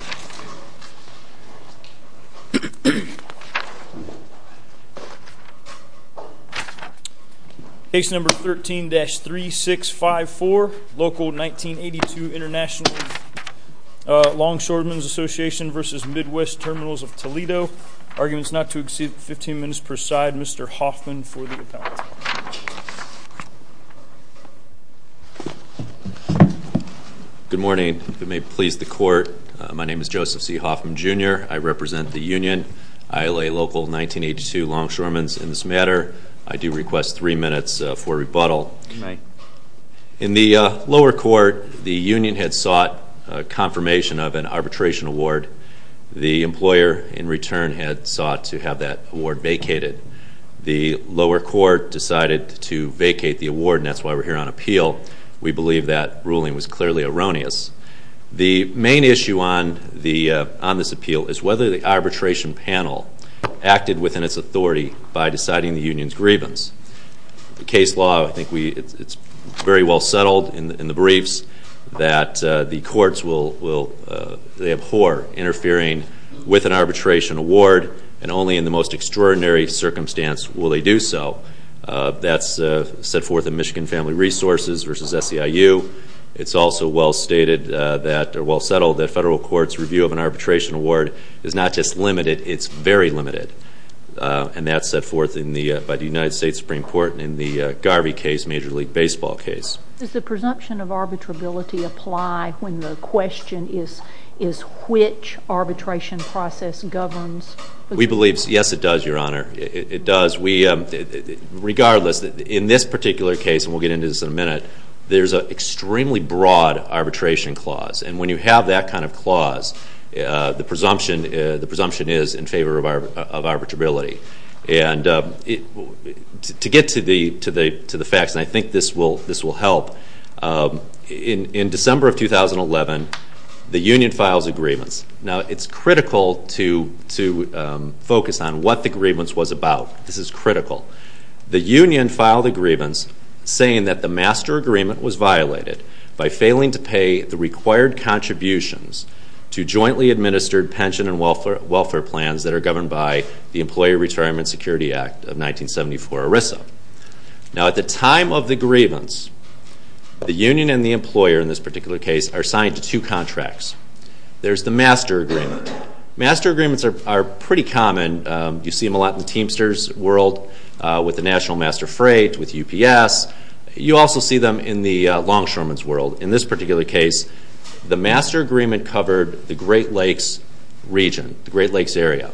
Case No. 13-3654, Local 1982 International Longshoremen Association v. Midwest Terminals Of Toledo. Arguments not to exceed 15 minutes per side. Mr. Hoffman for the appellate. Good morning. If it may please the court, my name is Joseph C. Hoffman, Jr. I represent the union, ILA Local 1982 Longshoremen in this matter. I do request 3 minutes for rebuttal. In the lower court, the union had sought confirmation of an arbitration award. The employer in return had sought to have that award vacated. The lower court decided to vacate the award, and that's why we're here on appeal. We believe that ruling was clearly erroneous. The main issue on this appeal is whether the arbitration panel acted within its authority by deciding the union's grievance. The case law, I think it's very well settled in the briefs that the courts will, they abhor interfering with an arbitration award, and only in the most extraordinary circumstance will they do so. That's set forth in Michigan Family Resources v. SEIU. It's also well stated that, or well settled, that federal courts' review of an arbitration award is not just limited, it's very limited. And that's set forth by the United States Supreme Court in the Garvey case, Major League Baseball case. Does the court deny when the question is which arbitration process governs? We believe, yes, it does, Your Honor. It does. Regardless, in this particular case, and we'll get into this in a minute, there's an extremely broad arbitration clause. And when you have that kind of clause, the presumption is in favor of arbitrability. And to get to the facts, and I think this will help, in December of 2011, the union files a grievance. Now, it's critical to focus on what the grievance was about. This is critical. The union filed a grievance saying that the master agreement was violated by failing to pay the required contributions to jointly administered pension and welfare plans that are governed by the time of the grievance, the union and the employer in this particular case are signed to two contracts. There's the master agreement. Master agreements are pretty common. You see them a lot in the Teamsters world, with the National Master Freight, with UPS. You also see them in the longshoreman's world. In this particular case, the master agreement covered the Great Lakes region, the Great Lakes area.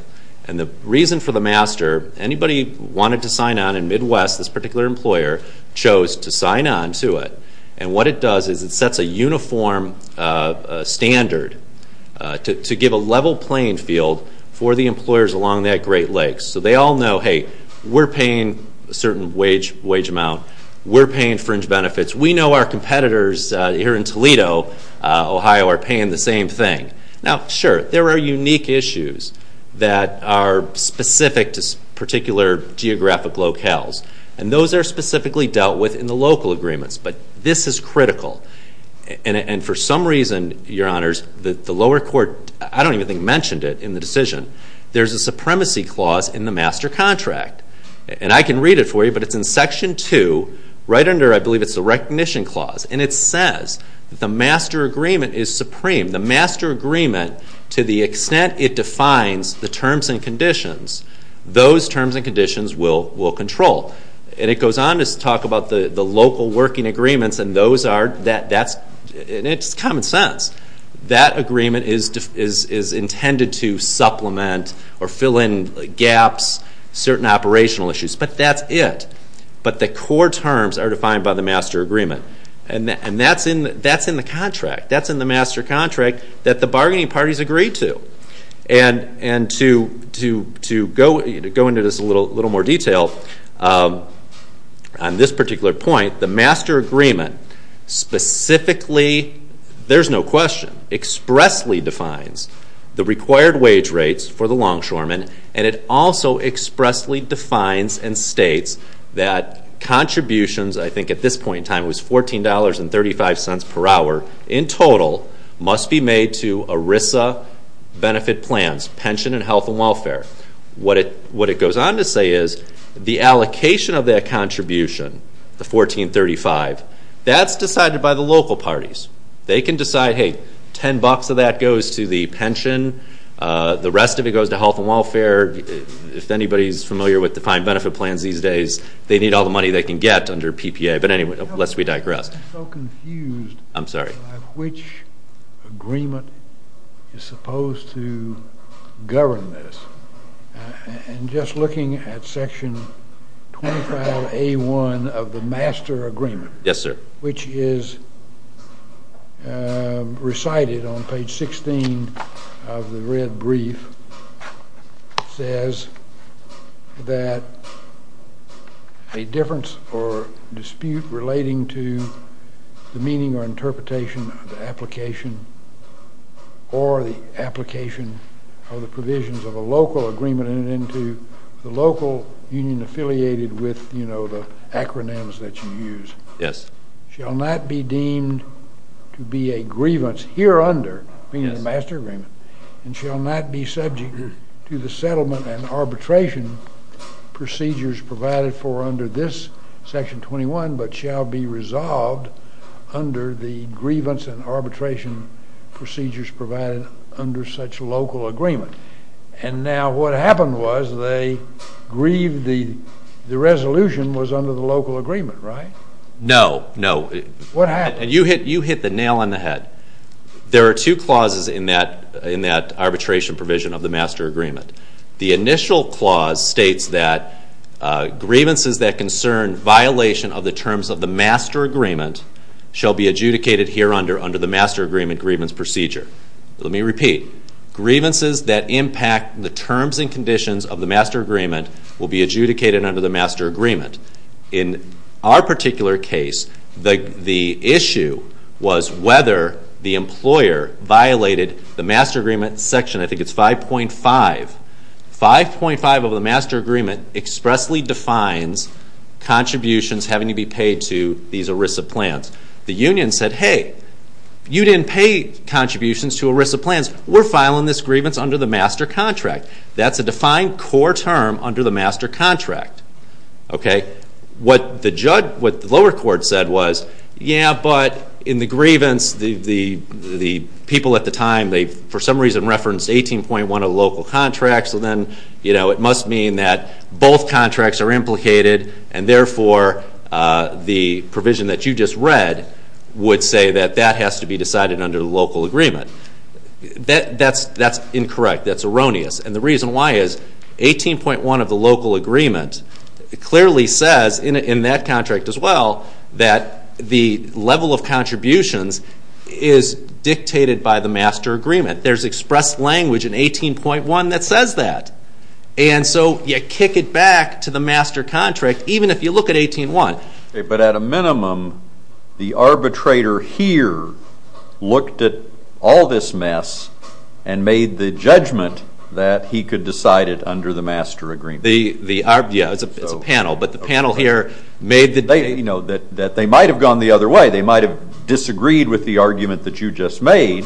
And the reason for the master, anybody wanted to sign on in Midwest, this particular employer chose to sign on to it. And what it does is it sets a uniform standard to give a level playing field for the employers along that Great Lakes. So they all know, hey, we're paying a certain wage amount. We're paying fringe benefits. We know our competitors here in Toledo, Ohio, are paying the same thing. Now, sure, there are unique issues that are specific to particular geographic locales. And those are specifically dealt with in the local agreements. But this is critical. And for some reason, your honors, the lower court, I don't even think mentioned it in the decision, there's a supremacy clause in the master contract. And I can read it for you, but it's in section two, right under, I believe it's the recognition clause. And it says the master agreement is an agreement to the extent it defines the terms and conditions. Those terms and conditions will control. And it goes on to talk about the local working agreements, and those are, that's, and it's common sense. That agreement is intended to supplement or fill in gaps, certain operational issues. But that's it. But the core terms are defined by the master agreement. And that's in the contract. That's in the master contract that the bargaining parties agree to. And to go into this a little more detail, on this particular point, the master agreement specifically, there's no question, expressly defines the required wage rates for the longshoremen. And it also expressly defines and states that contributions, I think at this point in time it was $14.35 per hour, in total, must be made to ERISA benefit plans, pension and health and welfare. What it goes on to say is, the allocation of that contribution, the $14.35, that's decided by the local parties. They can decide, hey, ten bucks of that goes to the pension, the rest of it goes to health and welfare. If anybody's familiar with defined benefit plans these days, they need all the money they can get under PPA. But anyway, lest we digress. I'm so confused. I'm sorry. Which agreement is supposed to govern this? And just looking at section 25A1 of the master agreement. Yes, sir. Which is recited on page 16 of the red brief, says that a difference or dispute relating to the meaning or interpretation of the application or the application of the provisions of a local agreement and into the local union affiliated with, you know, the acronyms that you use. Yes. Shall not be deemed to be a grievance here under the master agreement and shall not be subject to the settlement and arbitration procedures provided for under this section 21, but shall be resolved under the grievance and arbitration procedures provided under such local agreement. And now what happened was they grieved the resolution was under the local agreement, right? No, no. What happened? And you hit the nail on the head. There are two clauses in that arbitration provision of the master agreement. The initial clause states that grievances that concern violation of the terms of the master agreement shall be adjudicated here under the master agreement grievance procedure. Let me repeat. Grievances that impact the terms and conditions of the master agreement will be adjudicated under the master agreement. In our particular case, the issue was whether the employer violated the master agreement section. I think it's 5.5. 5.5 of the master agreement expressly defines contributions having to be paid to these ERISA plans. The union said, hey, you didn't pay contributions to ERISA plans. We're filing this grievance under the master contract. That's a defined core term under the master contract. What the lower court said was, yeah, but in the grievance, the people at the time, they for some reason referenced 18.1 of local contracts, so then it must mean that both contracts are implicated and therefore the has to be decided under the local agreement. That's incorrect. That's erroneous. And the reason why is 18.1 of the local agreement clearly says in that contract as well that the level of contributions is dictated by the master agreement. There's expressed language in 18.1 that says that. And so you kick it back to the master contract even if you look at 18.1. But at a minimum, the arbitrator here looked at all this mess and made the judgment that he could decide it under the master agreement. Yeah, it's a panel, but the panel here made the They might have gone the other way. They might have disagreed with the argument that you just made,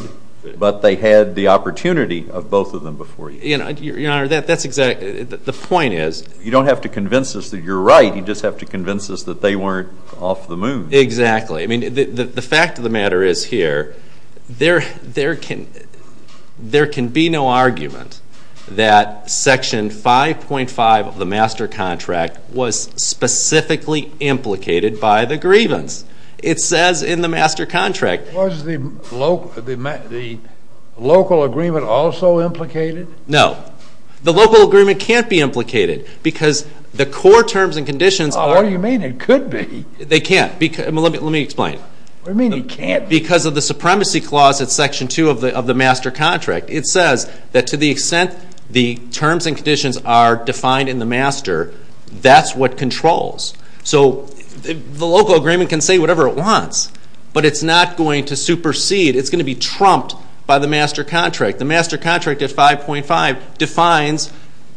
but they had the opportunity of both of them before you. Your Honor, that's exactly, the point is. You don't have to convince us that you're right. You just have to convince us that they weren't off the moon. Exactly. I mean, the fact of the matter is here, there can be no argument that section 5.5 of the master contract was specifically implicated by the grievance. It says in the master contract. Was the local agreement also implicated? No. The local agreement can't be implicated because the core terms and conditions. What do you mean it could be? They can't. Let me explain. What do you mean it can't be? Because of the supremacy clause at section 2 of the master contract. It says that to the extent the terms and conditions are defined in the master, that's what controls. So the local agreement can say whatever it wants, but it's not going to supersede. It's going to be trumped by the master contract. The master contract at 5.5 defines,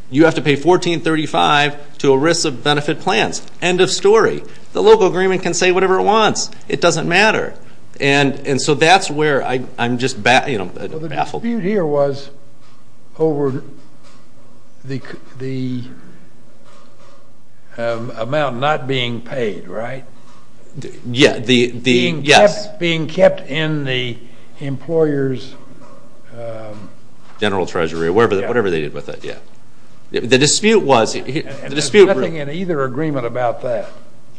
you have to pay $1435 to a risk of benefit plans. End of story. The local agreement can say whatever it wants. It doesn't matter. And so that's where I'm just baffled. Well, the dispute here was over the amount not being paid, right? Yes. Being kept in the employer's general treasury or whatever they did with it, yeah. The dispute was... And there's nothing in either agreement about that.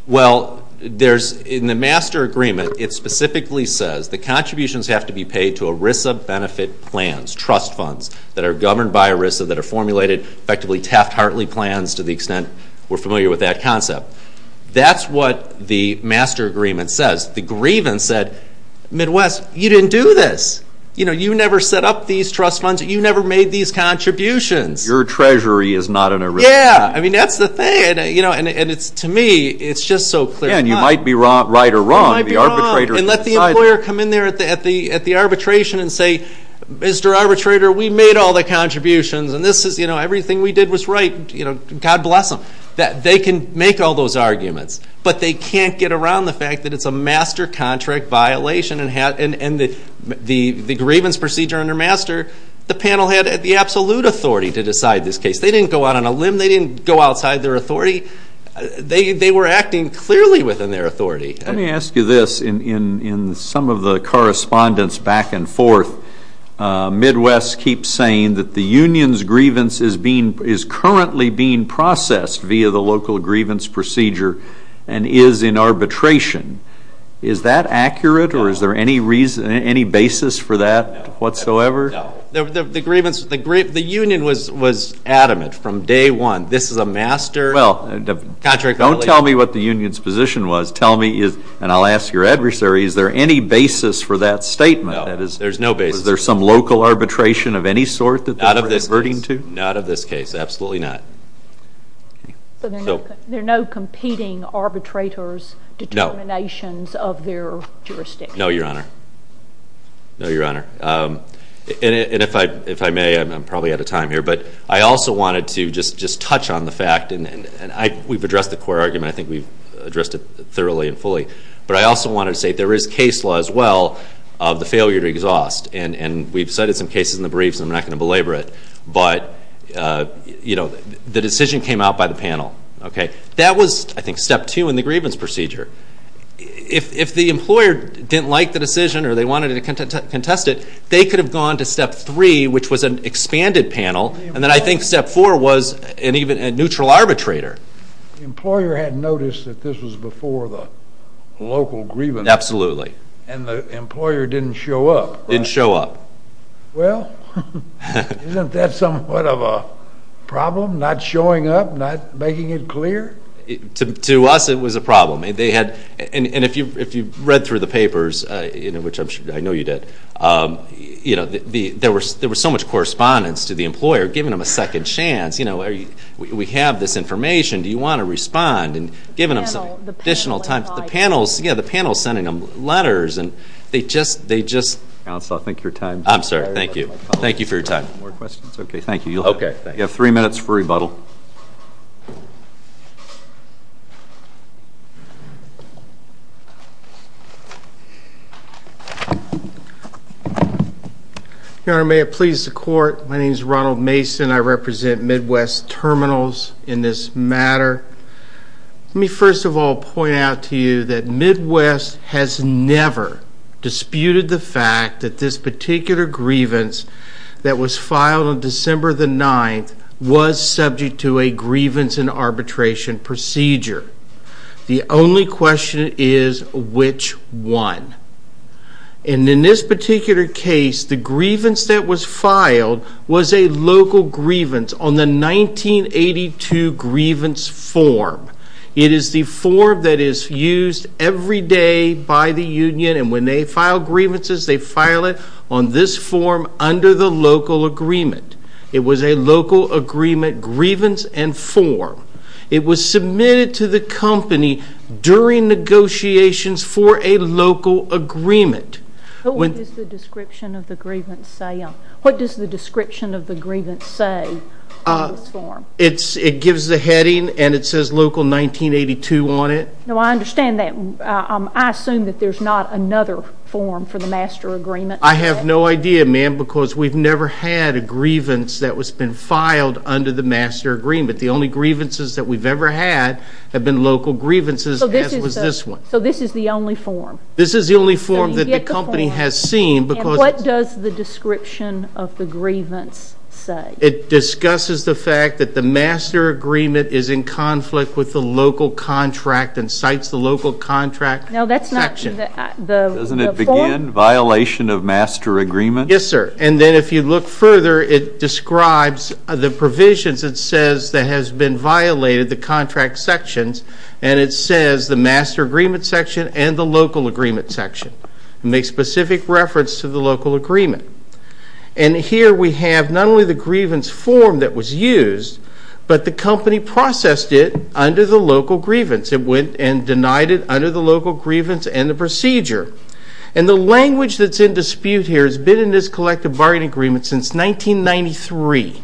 Well, there's, in the master agreement, it specifically says the contributions have to be paid to ERISA benefit plans, trust funds that are governed by ERISA that are formulated, effectively Taft-Hartley plans to the extent we're familiar with that concept. That's what the master agreement says. The grievance said, Midwest, you didn't do this. You know, you never set up these trust funds. You never made these contributions. Your treasury is not an ERISA. Yeah. I mean, that's the thing. And to me, it's just so clear cut. Yeah, and you might be right or wrong. You might be wrong. And let the employer come in there at the arbitration and say, Mr. Arbitrator, we made all the contributions and this is, you know, everything we did was right. God bless them. They can make all those arguments, but they can't get around the fact that it's a grievance procedure under master. The panel had the absolute authority to decide this case. They didn't go out on a limb. They didn't go outside their authority. They were acting clearly within their authority. Let me ask you this. In some of the correspondence back and forth, Midwest keeps saying that the union's grievance is being, is currently being processed via the local grievance procedure and is in arbitration. Is that accurate or is there any reason, any basis for that whatsoever? No. The grievance, the union was adamant from day one. This is a master contract. Don't tell me what the union's position was. Tell me, and I'll ask your adversary, is there any basis for that statement? No, there's no basis. Is there some local arbitration of any sort that they're converting to? Not of this case, absolutely not. So there are no competing arbitrators' determinations of their jurisdiction? No, Your Honor. No, Your Honor. And if I may, I'm probably out of time here, but I also wanted to just touch on the fact, and we've addressed the core argument, I think we've addressed it thoroughly and fully, but I also wanted to say there is case law as well of the failure to exhaust. And we've cited some cases in the briefs, and I'm not going to belabor it, but the decision came out by the panel. That was, I think, step two in the grievance procedure. If the employer didn't like the decision or they wanted to contest it, they could have gone to step three, which was an expanded panel, and then I think step four was a neutral arbitrator. The employer had noticed that this was before the local grievance. Absolutely. And the employer didn't show up. Didn't show up. Well, isn't that somewhat of a problem, not showing up, not making it clear? To us, it was a problem. And they had, and if you've read through the papers, you know, which I'm sure, I know you did, you know, there were so much correspondence to the employer, giving them a second chance, you know, we have this information, do you want to respond? And the panel's sending them letters, and they just... Counsel, I think your time is up. I'm sorry, thank you. Thank you for your time. More questions? Okay, thank you. Okay. You have three minutes for rebuttal. Your Honor, may it please the Court, my name is Ronald Mason, I represent Midwest Terminals in this matter. Let me first of all point out to you that Midwest has never disputed the fact that this particular grievance that was filed on December the 9th was subject to a grievance and arbitration procedure. The only question is, which one? And in this particular case, the grievance that was filed was a local grievance on the 1982 grievance form. It is the form that is used every day by the union, and when they file grievances, they file it on this form under the local agreement. It was a local agreement grievance and form. It was submitted to the company during negotiations for a local agreement. What does the description of the grievance say on this form? It gives the heading, and it says local 1982 on it. No, I understand that. I assume that there's not another form for the master agreement. I have no idea, ma'am, because we've never had a grievance that has been filed under the master agreement. The only grievances that we've ever had have been local grievances, as was this one. So this is the only form? This is the only form that the company has seen. And what does the description of the grievance say? It discusses the fact that the master agreement is in conflict with the local contract and cites the local contract section. No, that's not the form. Doesn't it begin violation of master agreement? Yes, sir, and then if you look further, it describes the provisions. It says that has been violated the and it says the master agreement section and the local agreement section. It makes specific reference to the local agreement. And here we have not only the grievance form that was used, but the company processed it under the local grievance. It went and denied it under the local grievance and the procedure. And the language that's in dispute here has been in this collective agreement since 1993.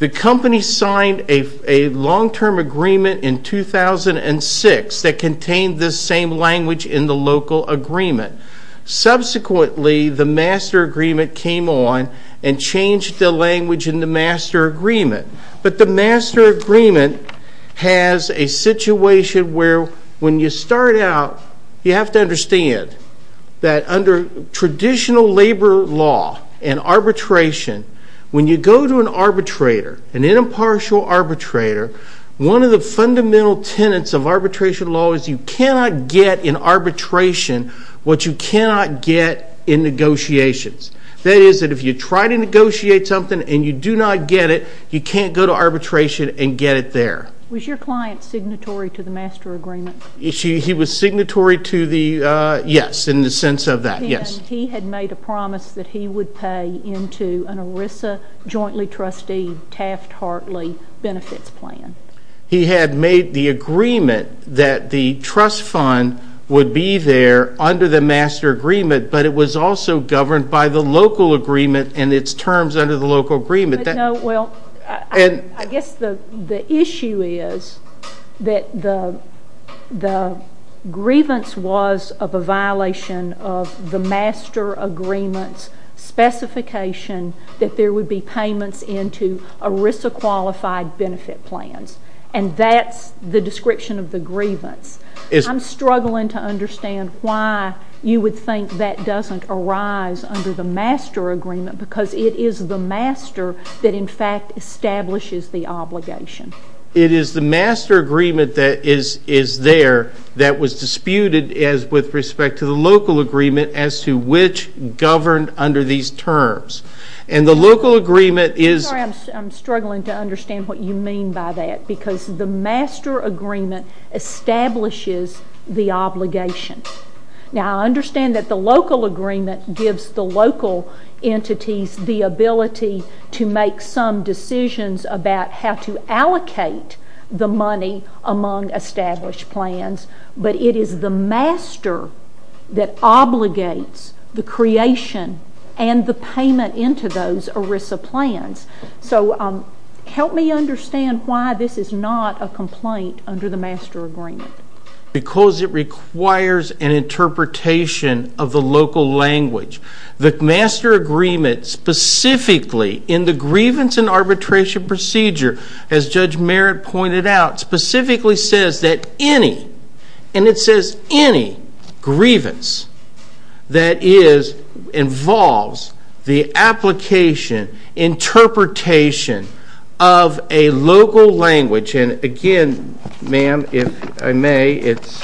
The company signed a long-term agreement in 2006 that contained this same language in the local agreement. Subsequently, the master agreement came on and changed the language in the master agreement. But the master agreement has a situation where when you start out, you have to understand that under traditional labor law and arbitration, when you go to an arbitrator, an impartial arbitrator, one of the fundamental tenets of arbitration law is you cannot get in arbitration what you cannot get in negotiations. That is that if you try to negotiate something and you do not get it, you can't go to arbitration and get it there. Was your client signatory to the master agreement? He was signatory to the, yes, in the sense of that, yes. He had made a promise that he would pay into an ERISA jointly trustee Taft-Hartley benefits plan. He had made the agreement that the trust fund would be there under the master agreement, but it was also governed by the local agreement and its issue is that the grievance was of a violation of the master agreement's specification that there would be payments into ERISA qualified benefit plans. And that's the description of the grievance. I'm struggling to understand why you would think that doesn't arise under the master agreement because it is the master that in fact establishes the obligation. It is the master agreement that is there that was disputed as with respect to the local agreement as to which governed under these terms. And the local agreement is. I'm struggling to understand what you mean by that because the master agreement establishes the obligation. Now I understand that the local agreement gives the local entities the ability to make some decisions about how to allocate the money among established plans, but it is the master that obligates the creation and the payment into those ERISA plans. So help me understand why this is not a complaint under the master agreement. Because it requires an interpretation of the local language. The master agreement specifically in the grievance and arbitration procedure as Judge Merritt pointed out specifically says that any and it says any grievance that is involves the application interpretation of a local language. And again ma'am if I may it's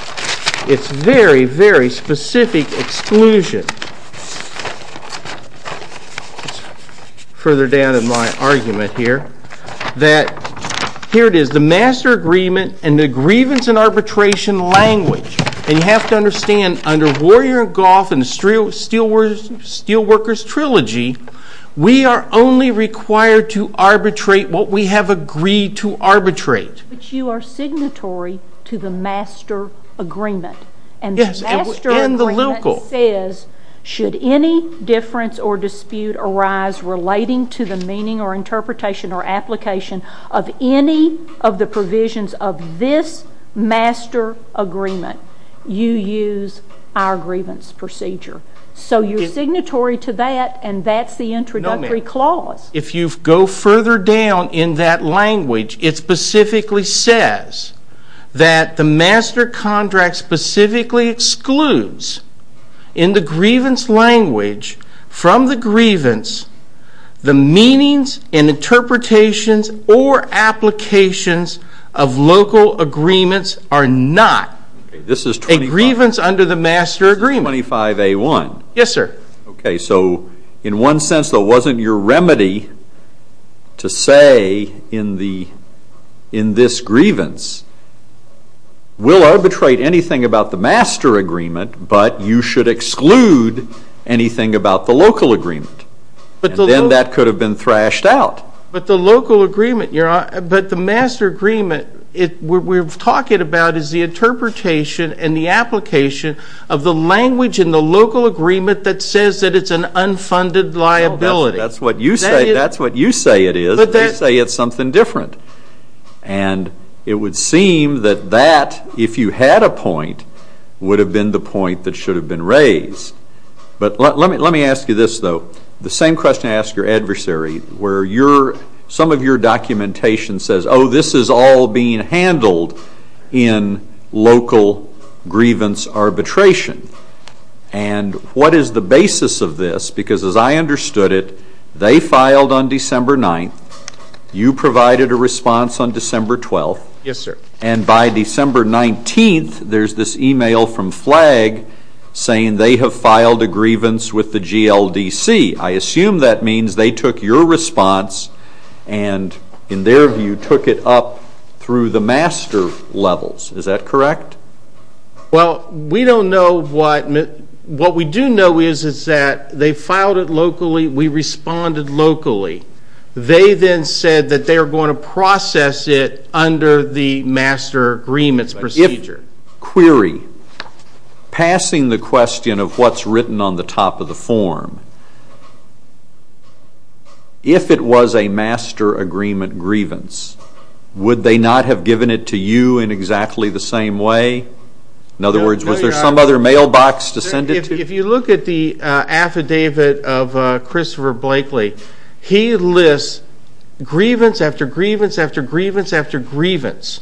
it's very very specific exclusion. Further down in my argument here that here it is the master agreement and the grievance and arbitration language. And you have to understand under Warrior and Goff and the Steelworkers Trilogy we are only required to arbitrate what we have agreed to arbitrate. But you are signatory to the master agreement and the master agreement says should any difference or dispute arise relating to the meaning or interpretation or application of any of the provisions of this agreement you use our grievance procedure. So you're signatory to that and that's the introductory clause. If you go further down in that language it specifically says that the master contract specifically excludes in the grievance language from the grievance the meanings and interpretations or applications of local agreements are not a grievance under the master agreement. Yes sir. Okay so in one sense though wasn't your remedy to say in the in this grievance we'll arbitrate anything about the master agreement but you should exclude anything about the local agreement but then that could have been thrashed out. But the local agreement your honor but the master agreement it we're talking about is the interpretation and the application of the language in the local agreement that says that it's an unfunded liability. That's what you say that's what you say it is but they say it's something different and it would seem that that if you had a point would have been the point that should have been raised. But let me ask you this though the same question I ask your adversary where you're some of your documentation says oh this is all being handled in local grievance arbitration and what is the basis of this because as I understood it they filed on December 9th you provided a response on December 12th. Yes sir. And by December 19th there's this email from flag saying they have filed a grievance with the GLDC. I assume that means they took your response and in their view took it up through the master levels is that correct? Well we don't know what what we do know is is that they filed it locally we responded locally. They then said that they are going to process it under the master agreements procedure. If query passing the question of what's written on the top of the form if it was a master agreement grievance would they not have given it to you in exactly the same way in other words was there some other mailbox to send it to? If you look at the affidavit of Christopher Blakely he lists grievance after grievance after grievance after grievance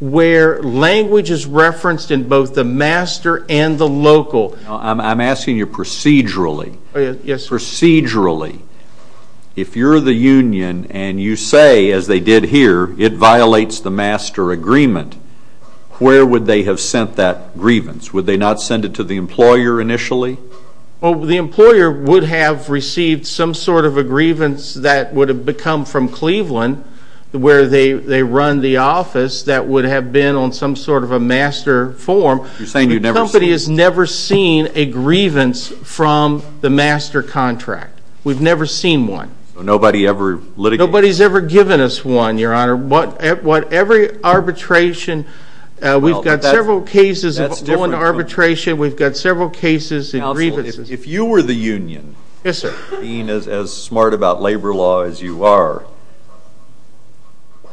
where language is referenced in both the master and the local. I'm asking you procedurally. Procedurally if you're the union and you say as they did here it violates the master agreement where would they have sent that grievance would they not send it to the employer initially? Well the employer would have received some sort of a grievance that would have become from Cleveland where they they run the office that would have been on some sort of a master form. You're saying you've never seen. The company has never seen a grievance from the master contract. We've never seen one. Nobody ever litigated. Nobody's ever given us one your honor what at what every arbitration we've got several cases of going to arbitration we've got several cases and grievances. If you were the union yes sir being as smart about labor law as you are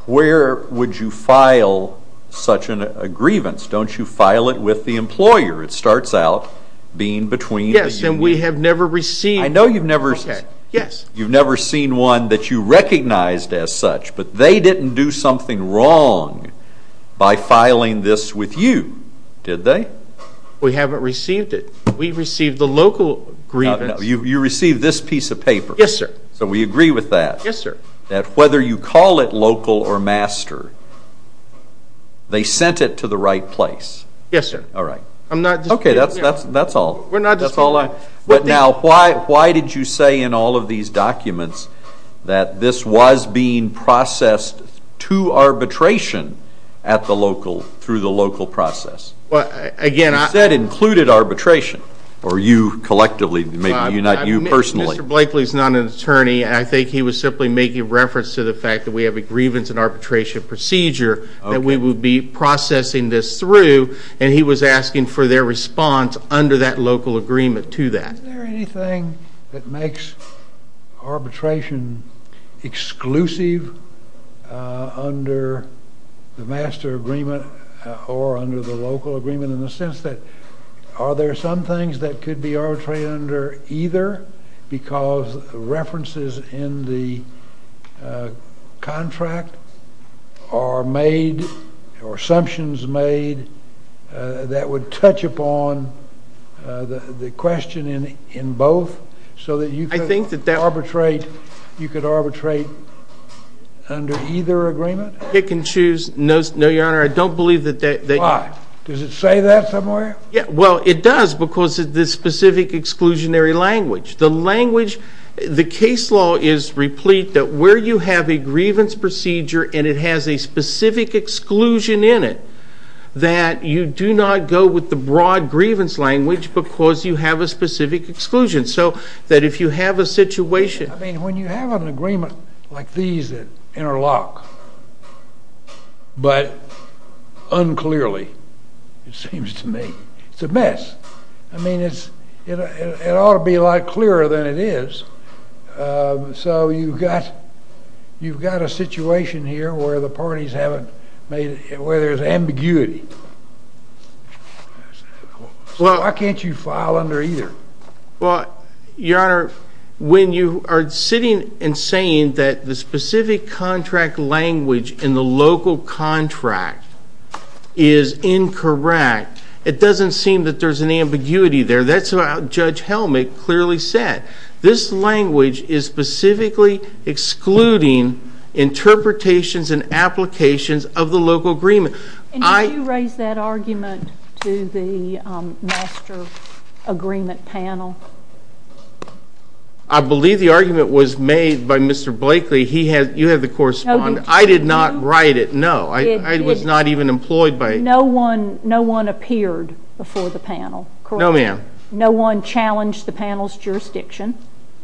where would you file such a grievance? Don't you file it with the employer? It starts out being between. Yes and we have never received. I know you've never said yes you've never seen one that you recognized as such but they didn't do something wrong by filing this with you did they? We haven't received it. We received the local grievance. You received this piece of paper. Yes sir. So we agree with that. Yes sir. That whether you call it local or master they sent it to the right place. Yes sir. All right. I'm not. Okay that's that's that's all. We're not. That's all I. But now why why did you say in all of these documents that this was being processed to arbitration at the local through the arbitration or you collectively maybe not you personally? Mr. Blakely is not an attorney and I think he was simply making reference to the fact that we have a grievance and arbitration procedure that we would be processing this through and he was asking for their response under that local agreement to that. Is there anything that makes arbitration exclusive under the master agreement or under the local agreement in the sense that are there some things that could be arbitrated under either because references in the contract are made or assumptions made that would touch upon the the question in in both so that you think that they arbitrate you could arbitrate under either agreement? It can choose no no your honor I don't believe that. Why? Does it say that somewhere? Yeah well it does because of this specific exclusionary language. The language the case law is replete that where you have a grievance procedure and it has a specific exclusion in it that you do not go with the broad grievance language because you have a specific exclusion so that if you have a situation. I mean when you have an agreement like these that interlock but unclearly it seems to me it's a mess I mean it's it ought to be a lot clearer than it is so you've got you've got a situation here where the parties haven't made it where there's ambiguity well why can't you file under either? Well your honor when you are sitting and saying that the specific contract language in the local contract is incorrect it doesn't seem that there's an ambiguity there that's about Judge Helmick clearly said this language is specifically excluding interpretations and applications of the local agreement. Did you raise that argument to the master agreement panel? I believe the argument was made by Mr. Blakely he had you have the correspondence I did not write it no I was not even employed by no one no one appeared before the panel. No ma'am. No one challenged the panel's jurisdiction.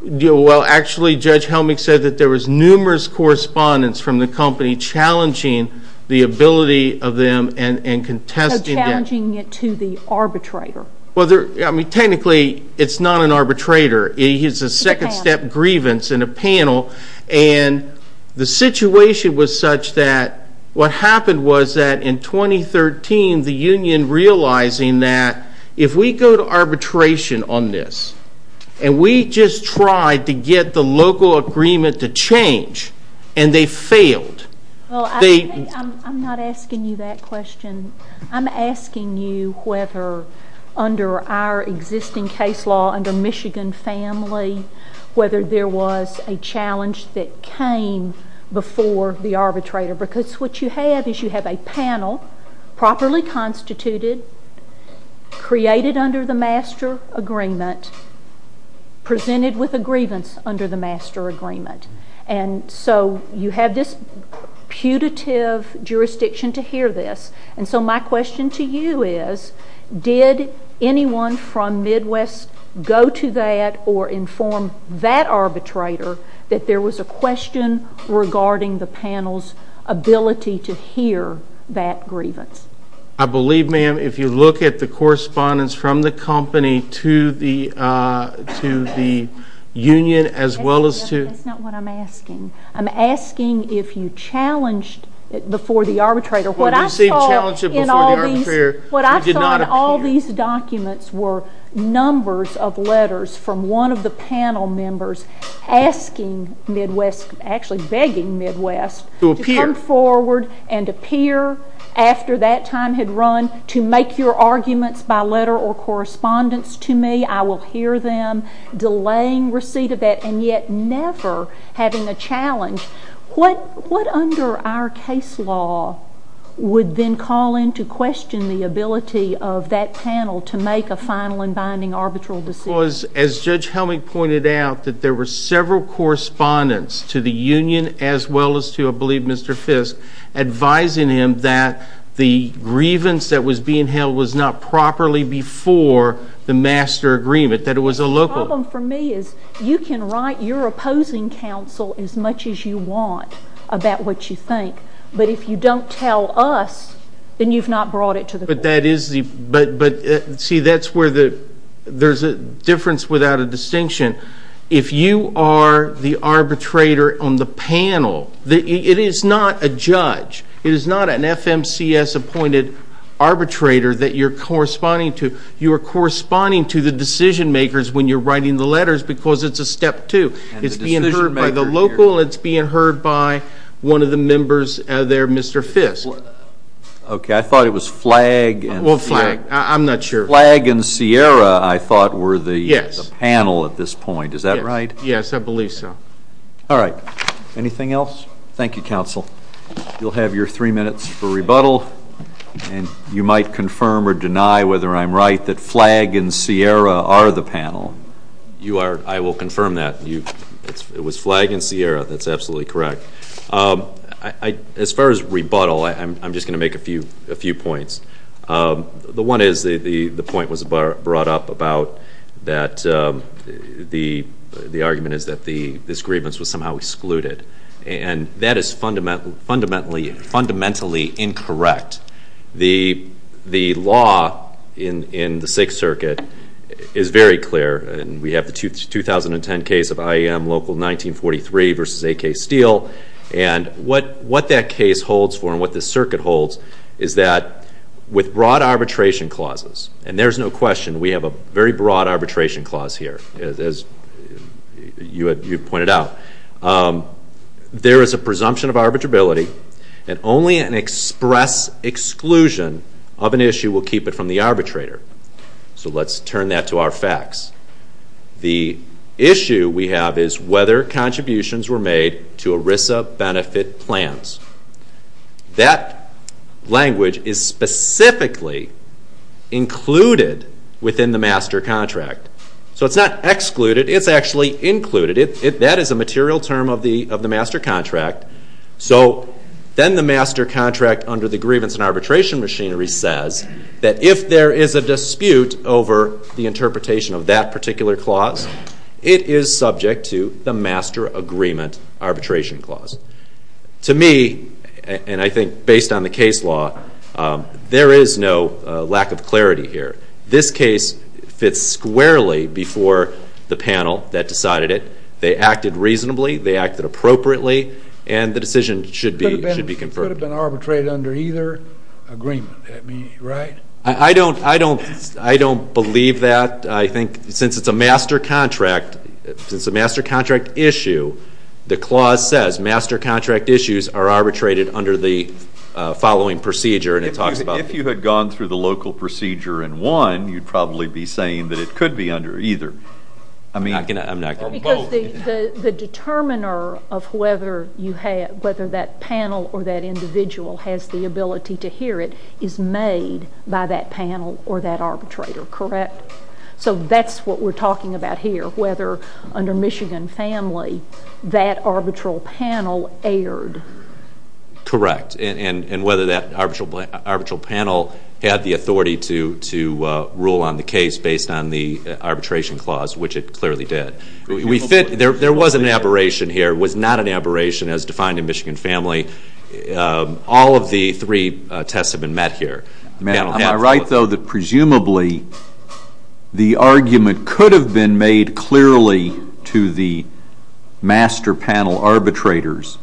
Well actually Judge Helmick said that there was numerous correspondence from the company challenging the ability of them and contesting it. So challenging it to the arbitrator. Well there I mean technically it's not an arbitrator it's a second step grievance in a panel and the situation was such that what happened was that in 2013 the union realizing that if we go to arbitration on this and we just tried to get the local agreement to change and they failed. Well I'm not asking you that question I'm asking you whether under our existing case law under Michigan family whether there was a challenge that came before the arbitrator because what you have is you have a panel properly constituted created under the master agreement presented with a grievance under the master agreement and so you have this putative jurisdiction to hear this and so my question to you is did anyone from Midwest go to that or inform that arbitrator that there was a question regarding the panel's ability to If you look at the correspondence from the company to the to the union as well as to That's not what I'm asking. I'm asking if you challenged it before the arbitrator. What I saw in all these What I saw in all these documents were numbers of letters from one of the panel members asking Midwest actually begging Midwest to come forward and appear after that time had run to make your arguments by letter or correspondence to me. I will hear them delaying receipt of that and yet never having a challenge. What under our case law would then call in to question the ability of that panel to make a final and binding arbitral decision? As Judge Helmick pointed out that there were several correspondence to the union as well as to I believe Mr. Fisk advising him that the grievance that was being held was not properly before the master agreement that it was a local The problem for me is you can write your opposing counsel as much as you want about what you think but if you don't tell us then you've not brought it to the court. But that is the but but see that's there's a difference without a distinction. If you are the arbitrator on the panel, it is not a judge. It is not an FMCS appointed arbitrator that you're corresponding to. You are corresponding to the decision makers when you're writing the letters because it's a step two. It's being heard by the local, it's being heard by one of the members there, Mr. Fisk. Okay I thought it was flag and Sierra I thought were the panel at this point is that right? Yes I believe so. All right anything else? Thank you counsel. You'll have your three minutes for rebuttal and you might confirm or deny whether I'm right that flag and Sierra are the panel. You are I will confirm that you it was flag and Sierra that's absolutely correct. As far as rebuttal I'm just going to make a few a few points. The one is the the the point was brought up about that the the argument is that the this grievance was somehow excluded and that is fundamentally fundamentally fundamentally incorrect. The the law in in the sixth circuit is very clear and we have the 2010 case of IAM local 1943 versus AK Steele and what what that case holds for and what the circuit holds is that with broad arbitration clauses and there's no question we have a very broad arbitration clause here as you had you pointed out there is a presumption of arbitrability and only an express exclusion of an issue will keep it from the arbitrator. So let's turn that to our facts. The issue we have is whether contributions were made to ERISA benefit plans. That language is specifically included within the master contract. So it's not excluded it's actually included it that is a material term of the of the master contract. So then the master contract under the grievance and arbitration machinery says that if there is a dispute over the interpretation of that particular clause it is subject to the master agreement arbitration clause. To me and I think based on the case law there is no lack of clarity here. This case fits squarely before the panel that decided it. They acted reasonably they acted appropriately and the decision should be should be confirmed. It could have been arbitrated under either agreement right? I don't I don't I don't believe that. I think since it's a master contract since the master contract issue the clause says master contract issues are arbitrated under the following procedure and it talks about. If you had gone through the local procedure and won you'd probably be saying that it could be under either. I mean I'm not gonna. Because the the determiner of whether you had whether that panel or that So that's what we're talking about here whether under Michigan family that arbitral panel erred. Correct and and whether that arbitral arbitral panel had the authority to to rule on the case based on the arbitration clause which it clearly did. We fit there there was an aberration here was not an aberration as defined in Michigan family. All of the three tests have been met here. Am I right though that presumably the argument could have been made clearly to the master panel arbitrators.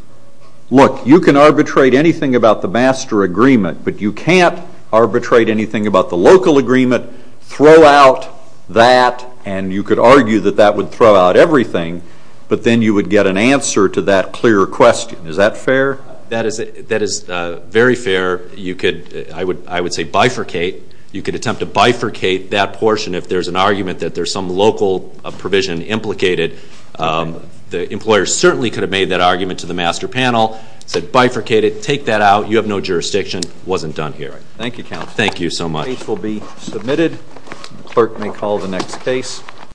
Look you can arbitrate anything about the master agreement but you can't arbitrate anything about the local agreement throw out that and you could argue that that would throw out everything but then you would get an answer to that clear question. Is that fair? That is that is very fair you could I would I would say bifurcate you could attempt to bifurcate that portion if there's an argument that there's some local provision implicated the employer certainly could have made that argument to the master panel said bifurcated take that out you have no jurisdiction wasn't done here. Thank you counsel. Thank you so much. Will be submitted clerk may call the next case.